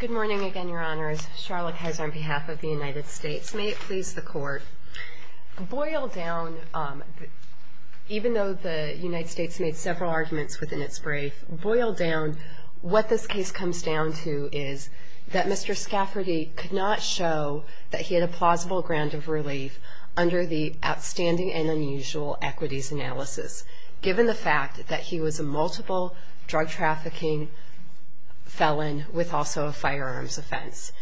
Good morning again, your honors. Charlotte Kaiser on behalf of the United States. May it please the court, boil down, even though the United States made several arguments within its brief, boil down what this case comes down to is that Mr. Skafferty could not show that he had a plausible ground of relief under the outstanding and unusual equities analysis, given the fact that he was a multiple drug trafficking felon with also a firearms offense.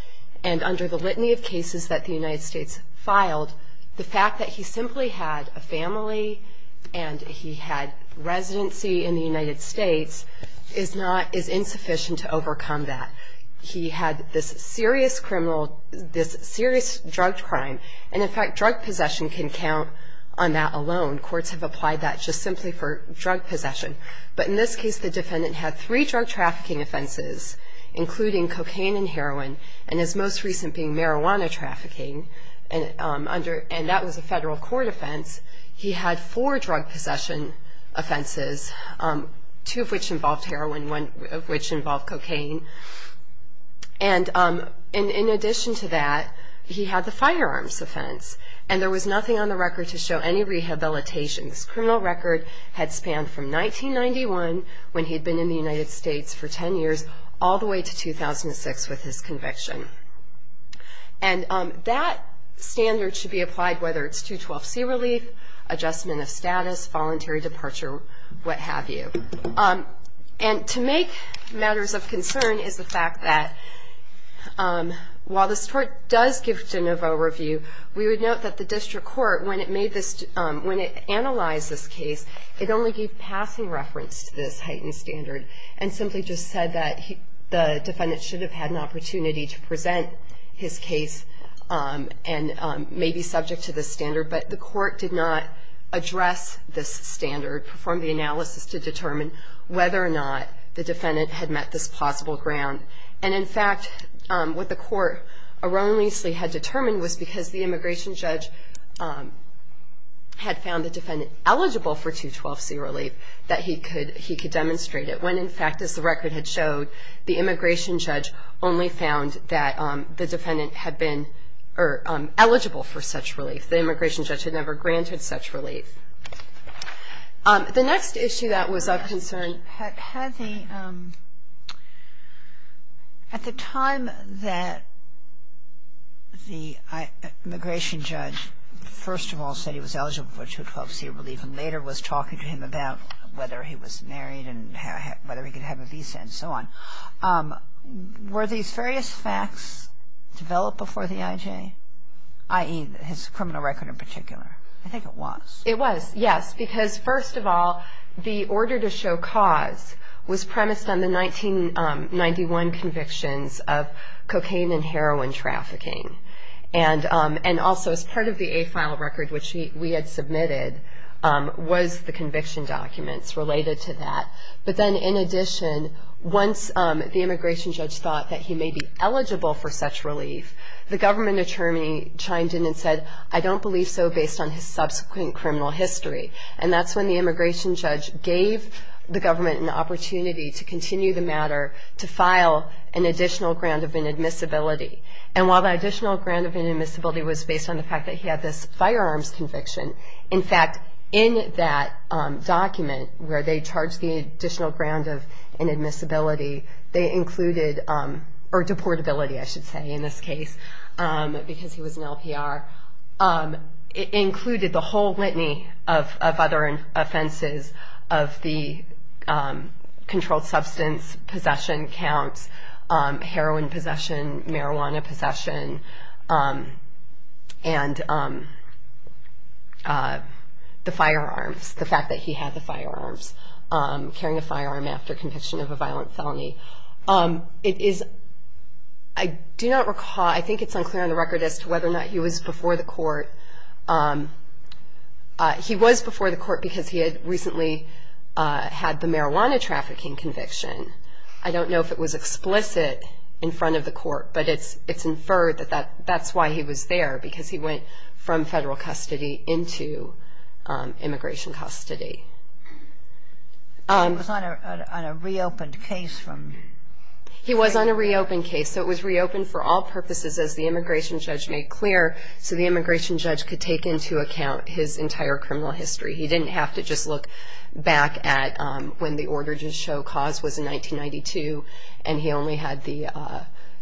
And under the litany of cases that the United States filed, the fact that he simply had a family and he had residency in the United States is not, is insufficient to overcome that. He had this serious criminal, this serious drug crime, and in fact, drug possession can count on that alone. Courts have applied that just simply for drug possession. But in this case, the defendant had three drug trafficking offenses, including cocaine, and heroin, and his most recent being marijuana trafficking, and that was a federal court offense. He had four drug possession offenses, two of which involved heroin, one of which involved cocaine. And in addition to that, he had the firearms offense, and there was nothing on the record to show any rehabilitations. His criminal record had spanned from 1991, when he had been in the United States for ten years, all the way to 2006, when he was convicted. And that standard should be applied, whether it's 212C relief, adjustment of status, voluntary departure, what have you. And to make matters of concern is the fact that, while this court does give De Novo a review, we would note that the district court, when it made this, when it analyzed this case, it only gave passing reference to this heightened standard, and simply just said that the defendant should have had an opportunity to present his case, and may be subject to this standard. But the court did not address this standard, perform the analysis to determine whether or not the defendant had met this plausible ground. And in fact, what the court erroneously had determined was because the immigration judge had found the defendant eligible for 212C relief, that he could demonstrate it, when in fact, as the record had showed, the immigration judge only found that the defendant had been eligible for such relief. The immigration judge had never granted such relief. The next issue that was of concern... At the time that the immigration judge first of all said he was eligible for 212C relief, and later was talking to him about whether he was married and whether he could have a visa and so on, were these various facts developed before the IJ? I.E., his criminal record in particular. I think it was. It was, yes, because first of all, the order to show cause was premised on the 1991 convictions of cocaine and heroin trafficking. And also, as part of the once the immigration judge thought that he may be eligible for such relief, the government attorney chimed in and said, I don't believe so based on his subsequent criminal history. And that's when the immigration judge gave the government an opportunity to continue the matter, to file an additional ground of inadmissibility. And while the additional ground of inadmissibility was based on the fact that he had this firearms conviction, in fact, in that document, where they charged the additional ground of inadmissibility, they included, or deportability I should say in this case, because he was an firearm after conviction of a violent felony. It is, I do not recall, I think it's unclear on the record as to whether or not he was before the court. He was before the court because he had recently had the marijuana trafficking conviction. I don't know if it was explicit in front of the court, but it's inferred that that's why he was there, because he went from federal custody into immigration custody. He was on a reopened case. He was on a reopened case. So it was reopened for all purposes as the immigration judge made clear, so the immigration judge could take into account his entire criminal history. He didn't have to just look back at when the order to show cause was in 1992, and he only had the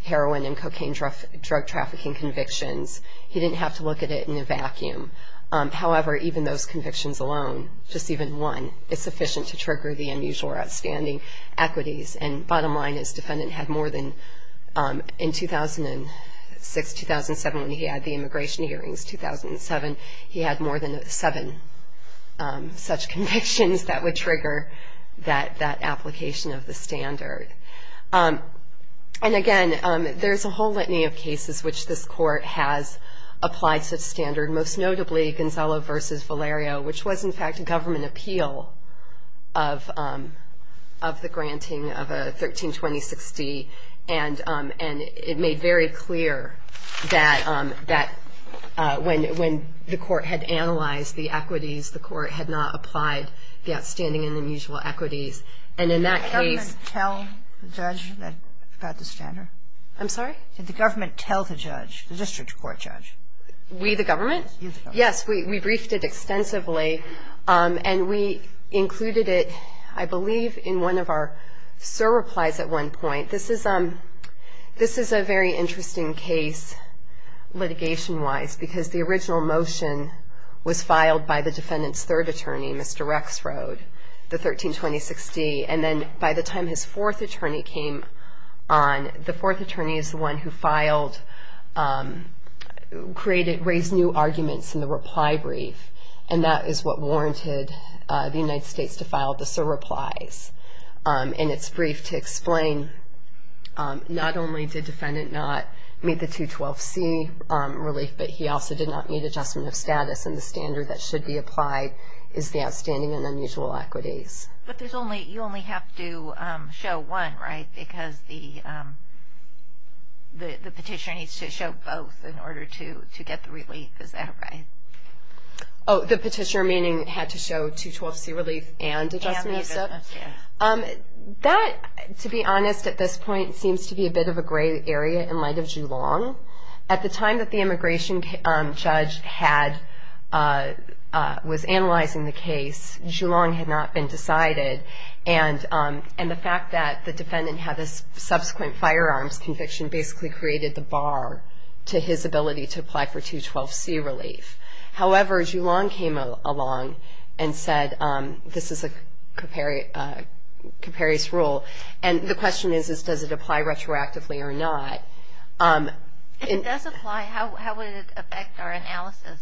heroin and cocaine drug trafficking convictions. He didn't have to look at it in a vacuum. However, even those convictions alone, just even one, is sufficient to trigger the unusual or outstanding equities, and bottom line, his defendant had more than, in 2006, 2007, when he had the immigration hearings, 2007, he had more than seven such convictions that would trigger that application of the standard. And again, there's a whole litany of cases which this court has applied such standard, most notably Gonzalo v. Valerio, which was in fact a government appeal of the granting of a 13-20-60, and it made very clear that when the court had analyzed the equities, the court had not applied the outstanding and unusual equities, and in that case... I'm sorry? Did the government tell the judge, the district court judge? We, the government? Yes, we briefed it extensively, and we included it, I believe, in one of our surreplies at one point. This is a very interesting case litigation-wise, because the original motion was filed by the defendant's third attorney, Mr. Rexrode, and the defendant's third attorney, Mr. Valerio, filed the 13-20-60, and then by the time his fourth attorney came on, the fourth attorney is the one who filed, created, raised new arguments in the reply brief, and that is what warranted the United States to file the surreplies in its brief to explain not only did the defendant not meet the 212C relief, but he also did not meet adjustment of status, and the standard that should be applied is the outstanding and unusual equities. But you only have to show one, right? Because the petitioner needs to show both in order to get the relief, is that right? Oh, the petitioner meaning had to show 212C relief and adjustment of status? And adjustment, yes. That, to be honest, at this point, seems to be a bit of a gray area in light of Julong. At the time that the immigration judge was analyzing the case, Julong had not been decided, and the fact that the defendant had a subsequent firearms conviction basically created the bar to his ability to apply for 212C relief. However, Julong came along and said, this is a comparis rule, and the question is, does it apply to the defendant? Does it apply to the defendant? Does it apply to the defendant? Does it apply to the defendant? Does it apply to the defendant?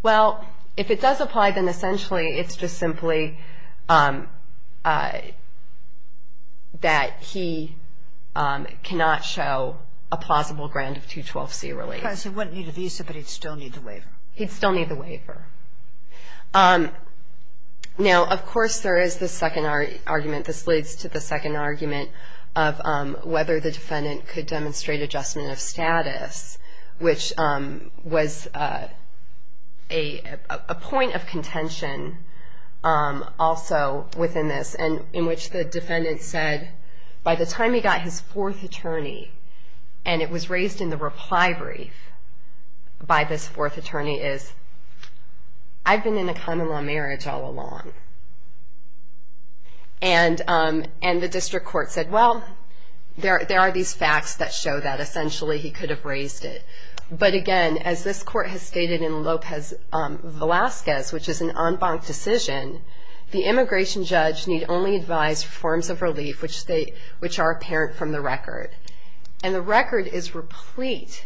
Well, if it does apply, then essentially it's just simply that he cannot show a plausible grant of 212C relief. Because he wouldn't need a visa, but he'd still need the waiver. He'd still need the waiver. Now, of course, there is the second argument. This leads to the second argument of whether the defendant could have been a common-law marriage. There was a point of contention also within this, in which the defendant said, by the time he got his fourth attorney, and it was raised in the reply brief by this fourth attorney, is, I've been in a common-law marriage all along. And the district court said, well, there are these facts that show that essentially he could have raised it. But, again, as this court has stated in Lopez-Velasquez, which is an en banc decision, the immigration judge need only advise forms of relief, which are apparent from the record. And the record is replete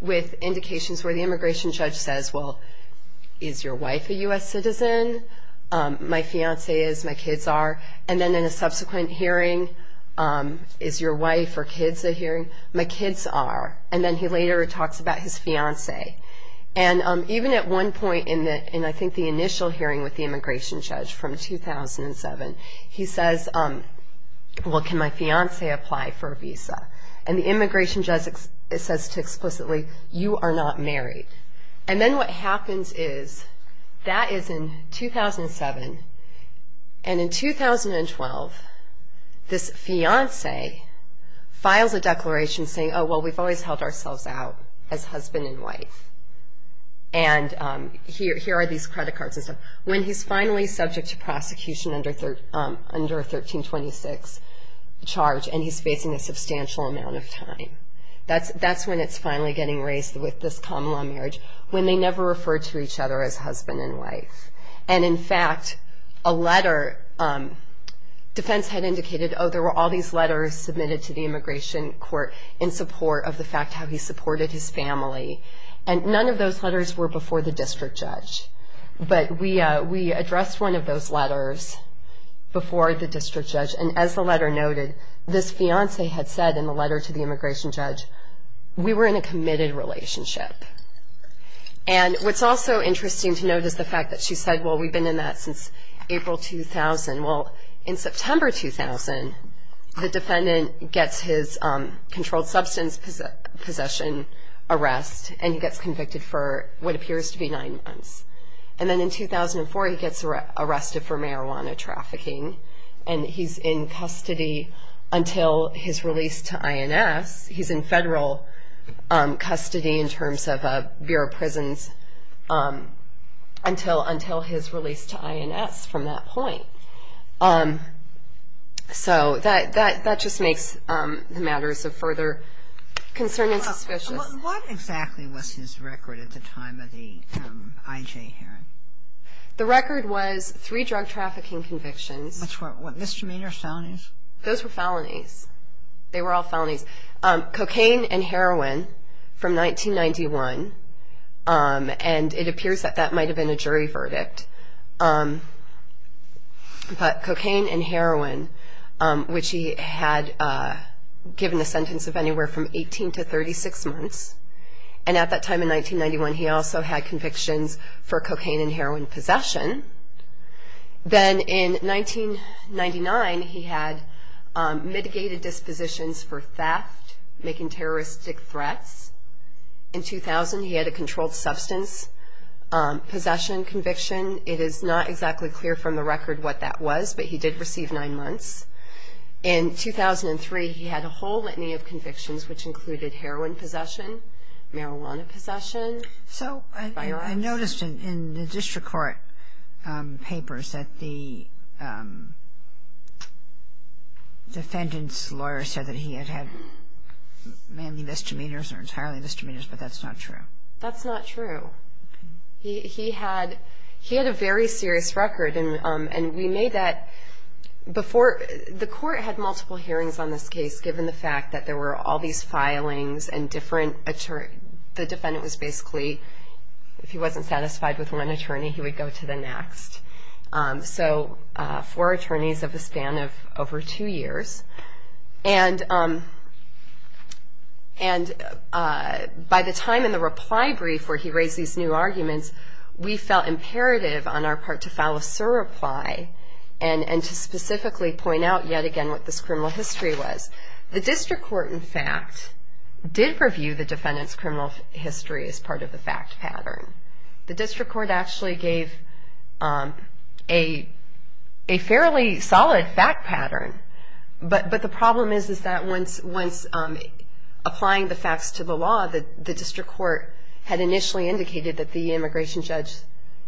with indications where the immigration judge says, well, is your wife a U.S. citizen? My fiancée is. My kids are. And then in a subsequent hearing, is your wife or kids a hearing? My kids are. And then he later retorts, well, my kids are. And he talks about his fiancée. And even at one point in, I think, the initial hearing with the immigration judge from 2007, he says, well, can my fiancée apply for a visa? And the immigration judge says explicitly, you are not married. And then what happens is, that is in 2007. And in 2012, this is a declaration saying, oh, well, we've always held ourselves out as husband and wife. And here are these credit cards and stuff. When he's finally subject to prosecution under 1326 charge, and he's facing a substantial amount of time, that's when it's finally getting raised with this common-law marriage, when they never referred to each other as husband and wife. And, in fact, a letter, defense had indicated, oh, there were all these letters submitted to the immigration court in support of the fact how he supported his family. And none of those letters were before the district judge. But we addressed one of those letters before the district judge. And as the letter noted, this fiancée had said in the letter to the immigration judge, we were in a committed relationship. And what's also interesting to note is the fact that she said, well, we've been in that relationship since April 2000. Well, in September 2000, the defendant gets his controlled substance possession arrest, and he gets convicted for what appears to be nine months. And then in 2004, he gets arrested for marijuana trafficking. And he's in custody until his release to INS. He's in federal custody in terms of a Bureau of Prisons until his release to INS. And he's in federal custody until his release to INS. He's in federal custody until his release to INS from that point. So that just makes the matters of further concern and suspicion. What exactly was his record at the time of the IJ hearing? The record was three drug trafficking convictions. That's what, misdemeanor felonies? Those were felonies. They were all felonies. Cocaine and heroin from 1991. And it appears that that might have been a jury verdict. But cocaine and heroin, which he had given a sentence of anywhere from 18 to 36 months. And at that time in 1991, he also had convictions for cocaine and heroin possession. Then in 1999, he had mitigated dispositions for theft, making terroristic threats. In 2000, he had a controlled substance possession conviction. It is not exactly clear from the record what that was, but he did receive nine months. In 2003, he had a whole litany of convictions, which included heroin possession, marijuana possession. So I noticed in the district court papers that the defendant's lawyer said that he had had mainly misdemeanors or entirely misdemeanors, but that's not true. That's not true. He had a very serious record, and we made that before. The court had multiple hearings on this case, given the fact that there were all these filings and different attorneys. The defendant was basically, if he wasn't satisfied with one attorney, he would go to the next. So four attorneys of the span of over two years. And he had a very serious record. By the time in the reply brief where he raised these new arguments, we felt imperative on our part to file a surreply and to specifically point out yet again what this criminal history was. The district court, in fact, did review the defendant's criminal history as part of the fact pattern. The district court actually gave a fairly solid fact pattern. But the problem is that once applying the facts to the law, the district court had initially indicated that the immigration judge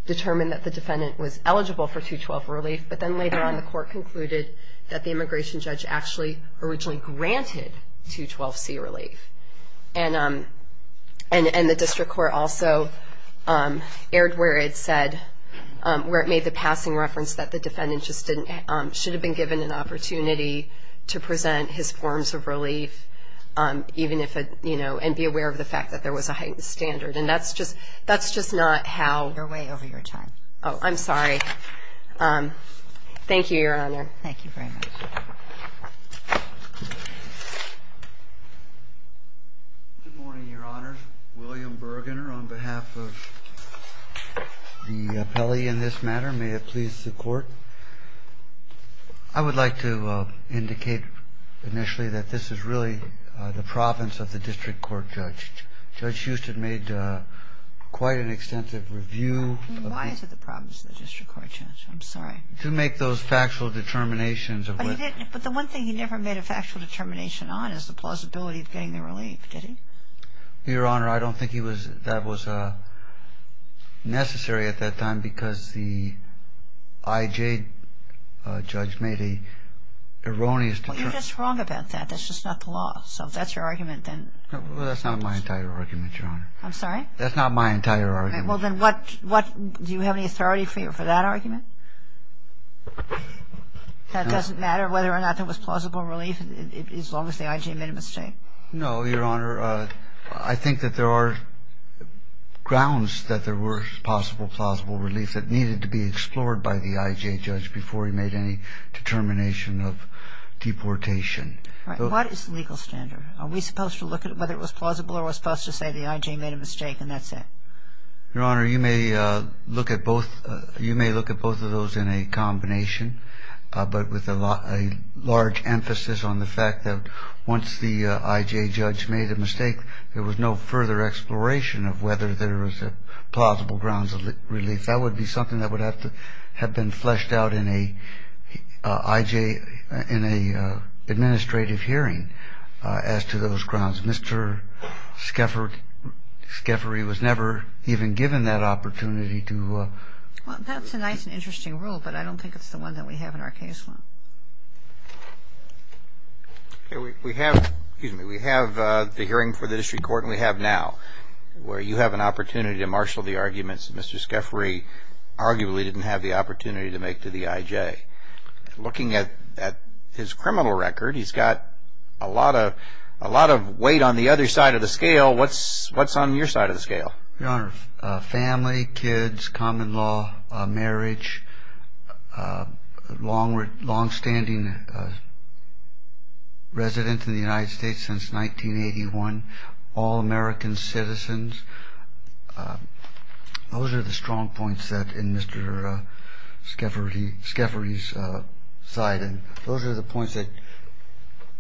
determined that the defendant was eligible for 212 relief, but then later on the court concluded that the immigration judge actually originally granted 212C relief. And the district court also erred where it said, where it made the passing reference that the defendant just didn't, should have been given an opportunity to present his forms of relief, even if, you know, and be aware of the fact that there was a heightened standard. And that's just, that's just not how. They're way over your time. Oh, I'm sorry. Thank you, Your Honor. Thank you very much. Good morning, Your Honor. William Bergener on behalf of the appellee in this matter. May it please the Court. I would like to indicate initially that this is really the province of the district court judge. Judge Huston made quite an extensive review. Why is it the province of the district court judge? I'm sorry. To make those factual determinations. But the one thing he never made a factual determination on is the plausibility of getting the relief, did he? Your Honor, I don't think he was, that was necessary at that time because the IJ judge made an erroneous determination. You're just wrong about that. That's just not the law. So if that's your argument, then. Well, that's not my entire argument, Your Honor. I'm sorry? That's not my entire argument. Well, then what, what, do you have any authority for that argument? That doesn't matter whether or not there was plausible relief as long as the IJ made a mistake? No, Your Honor. I think that there are grounds that there were possible plausible relief that needed to be explored by the IJ judge before he made any determination of deportation. Right. What is the legal standard? Are we supposed to look at whether it was plausible or are we supposed to say the IJ made a mistake and that's it? Your Honor, you may look at both, you may look at both of those in a combination, but with a large emphasis on the fact that once the IJ judge made a mistake, there was no further exploration of whether there was a plausible grounds of relief. That would be something that would have to have been fleshed out in a IJ, in a administrative hearing as to those grounds. Mr. Scheffery was never even given that opportunity to. Well, that's a nice and interesting rule, but I don't think it's the one that we have in our case. We have the hearing for the District Court and we have now, where you have an opportunity to marshal the arguments that Mr. Scheffery arguably didn't have the opportunity to make to the IJ. Looking at his criminal record, he's got a lot of weight on the other side of the scale. What's on your side of the scale? Your Honor, family, kids, common law, marriage, long-standing residence in the United States since 1981, all American citizens. Those are the strong points that in Mr. Scheffery's side and those are the points that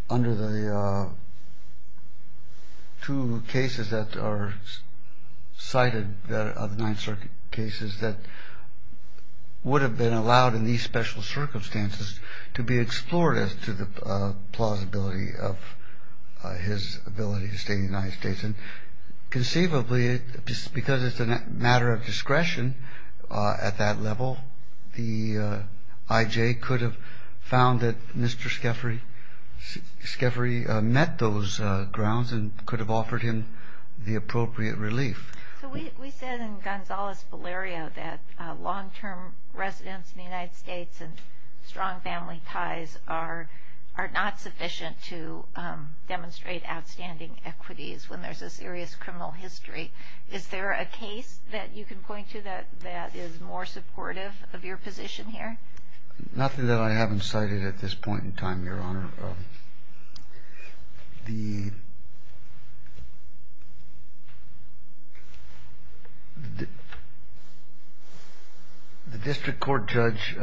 under the two cases that are cited of the Ninth Circuit cases that would have been allowed in these special circumstances to be explored as to the plausibility of his ability to stay in the United States. And conceivably, because it's a matter of discretion at that level, the IJ could have found that Mr. Scheffery met those grounds and could have offered him the appropriate relief. So we said in Gonzalez-Valerio that long-term residence in the United States and strong family ties are not sufficient to demonstrate outstanding equities when there's a serious criminal history. Is there a case that you can point to that is more supportive of your position here? Nothing that I haven't cited at this point in time, Your Honor. Your Honor, the district court judge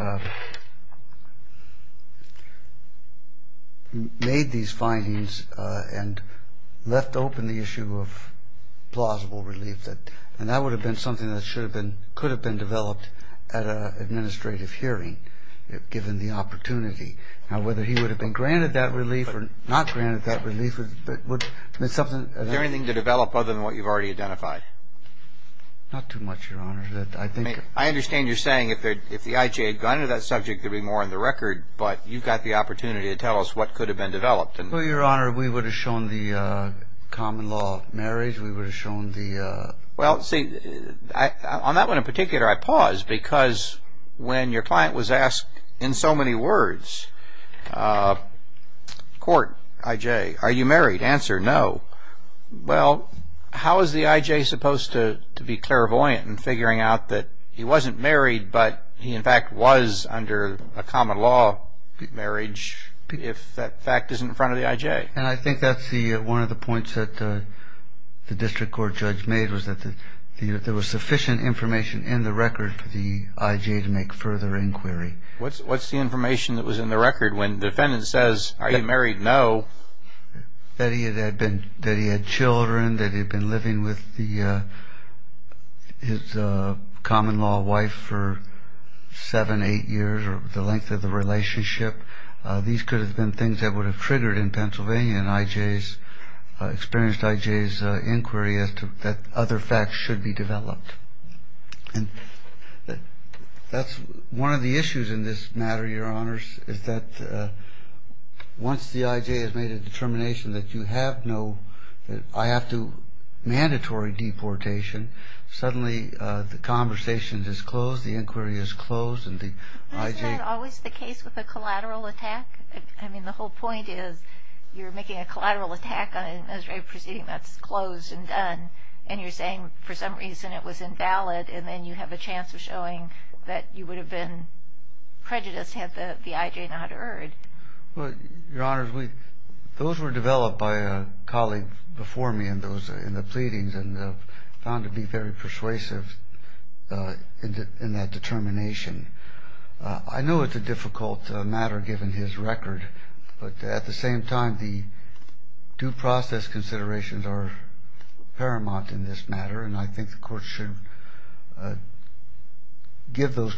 made these findings and left open the issue of plausible relief and that would have been something that could have been developed at an administrative hearing given the opportunity. Now, whether he would have been granted that relief or not granted that relief would be something... Is there anything to develop other than what you've already identified? Not too much, Your Honor. I understand you're saying if the IJ had gone into that subject, there'd be more on the record, but you've got the opportunity to tell us what could have been developed. Well, Your Honor, we would have shown the common law of marriage. We would have shown the... Well, see, on that one in particular, I pause because when your client was asked in so many words, court, IJ, are you married? Answer, no. Well, how is the IJ supposed to be clairvoyant in figuring out that he wasn't married but he in fact was under a common law marriage if that fact isn't in front of the IJ? And I think that's one of the points that the district court judge made was that there was sufficient information in the record for the IJ to make further inquiry. What's the information that was in the record when the defendant says, are you married? No. That he had children, that he had been living with his common law wife for seven, eight years or the length of the relationship. These could have been things that would have triggered in Pennsylvania and IJ's... experienced IJ's inquiry as to that other facts should be developed. And that's one of the issues in this matter, Your Honors, is that once the IJ has made a determination that you have no... that I have to... mandatory deportation, suddenly the conversation is closed, the inquiry is closed and the IJ... Isn't that always the case with a collateral attack? I mean, the whole point is you're making a collateral attack on an Israeli proceeding that's closed and done and you're saying for some reason it was invalid and then you have a chance of showing that you would have been prejudiced had the IJ not erred. Well, Your Honors, those were developed by a colleague before me in the pleadings and found to be very persuasive in that determination. I know it's a difficult matter given his record, but at the same time the due process considerations are paramount in this matter and I think the Court should give those...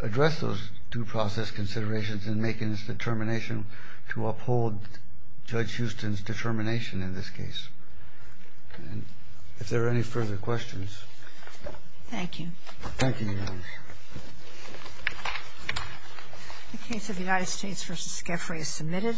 address those due process considerations in making its determination to uphold Judge Houston's determination in this case. If there are any further questions... Thank you, Your Honors. The case of United States v. Skaffrey is submitted.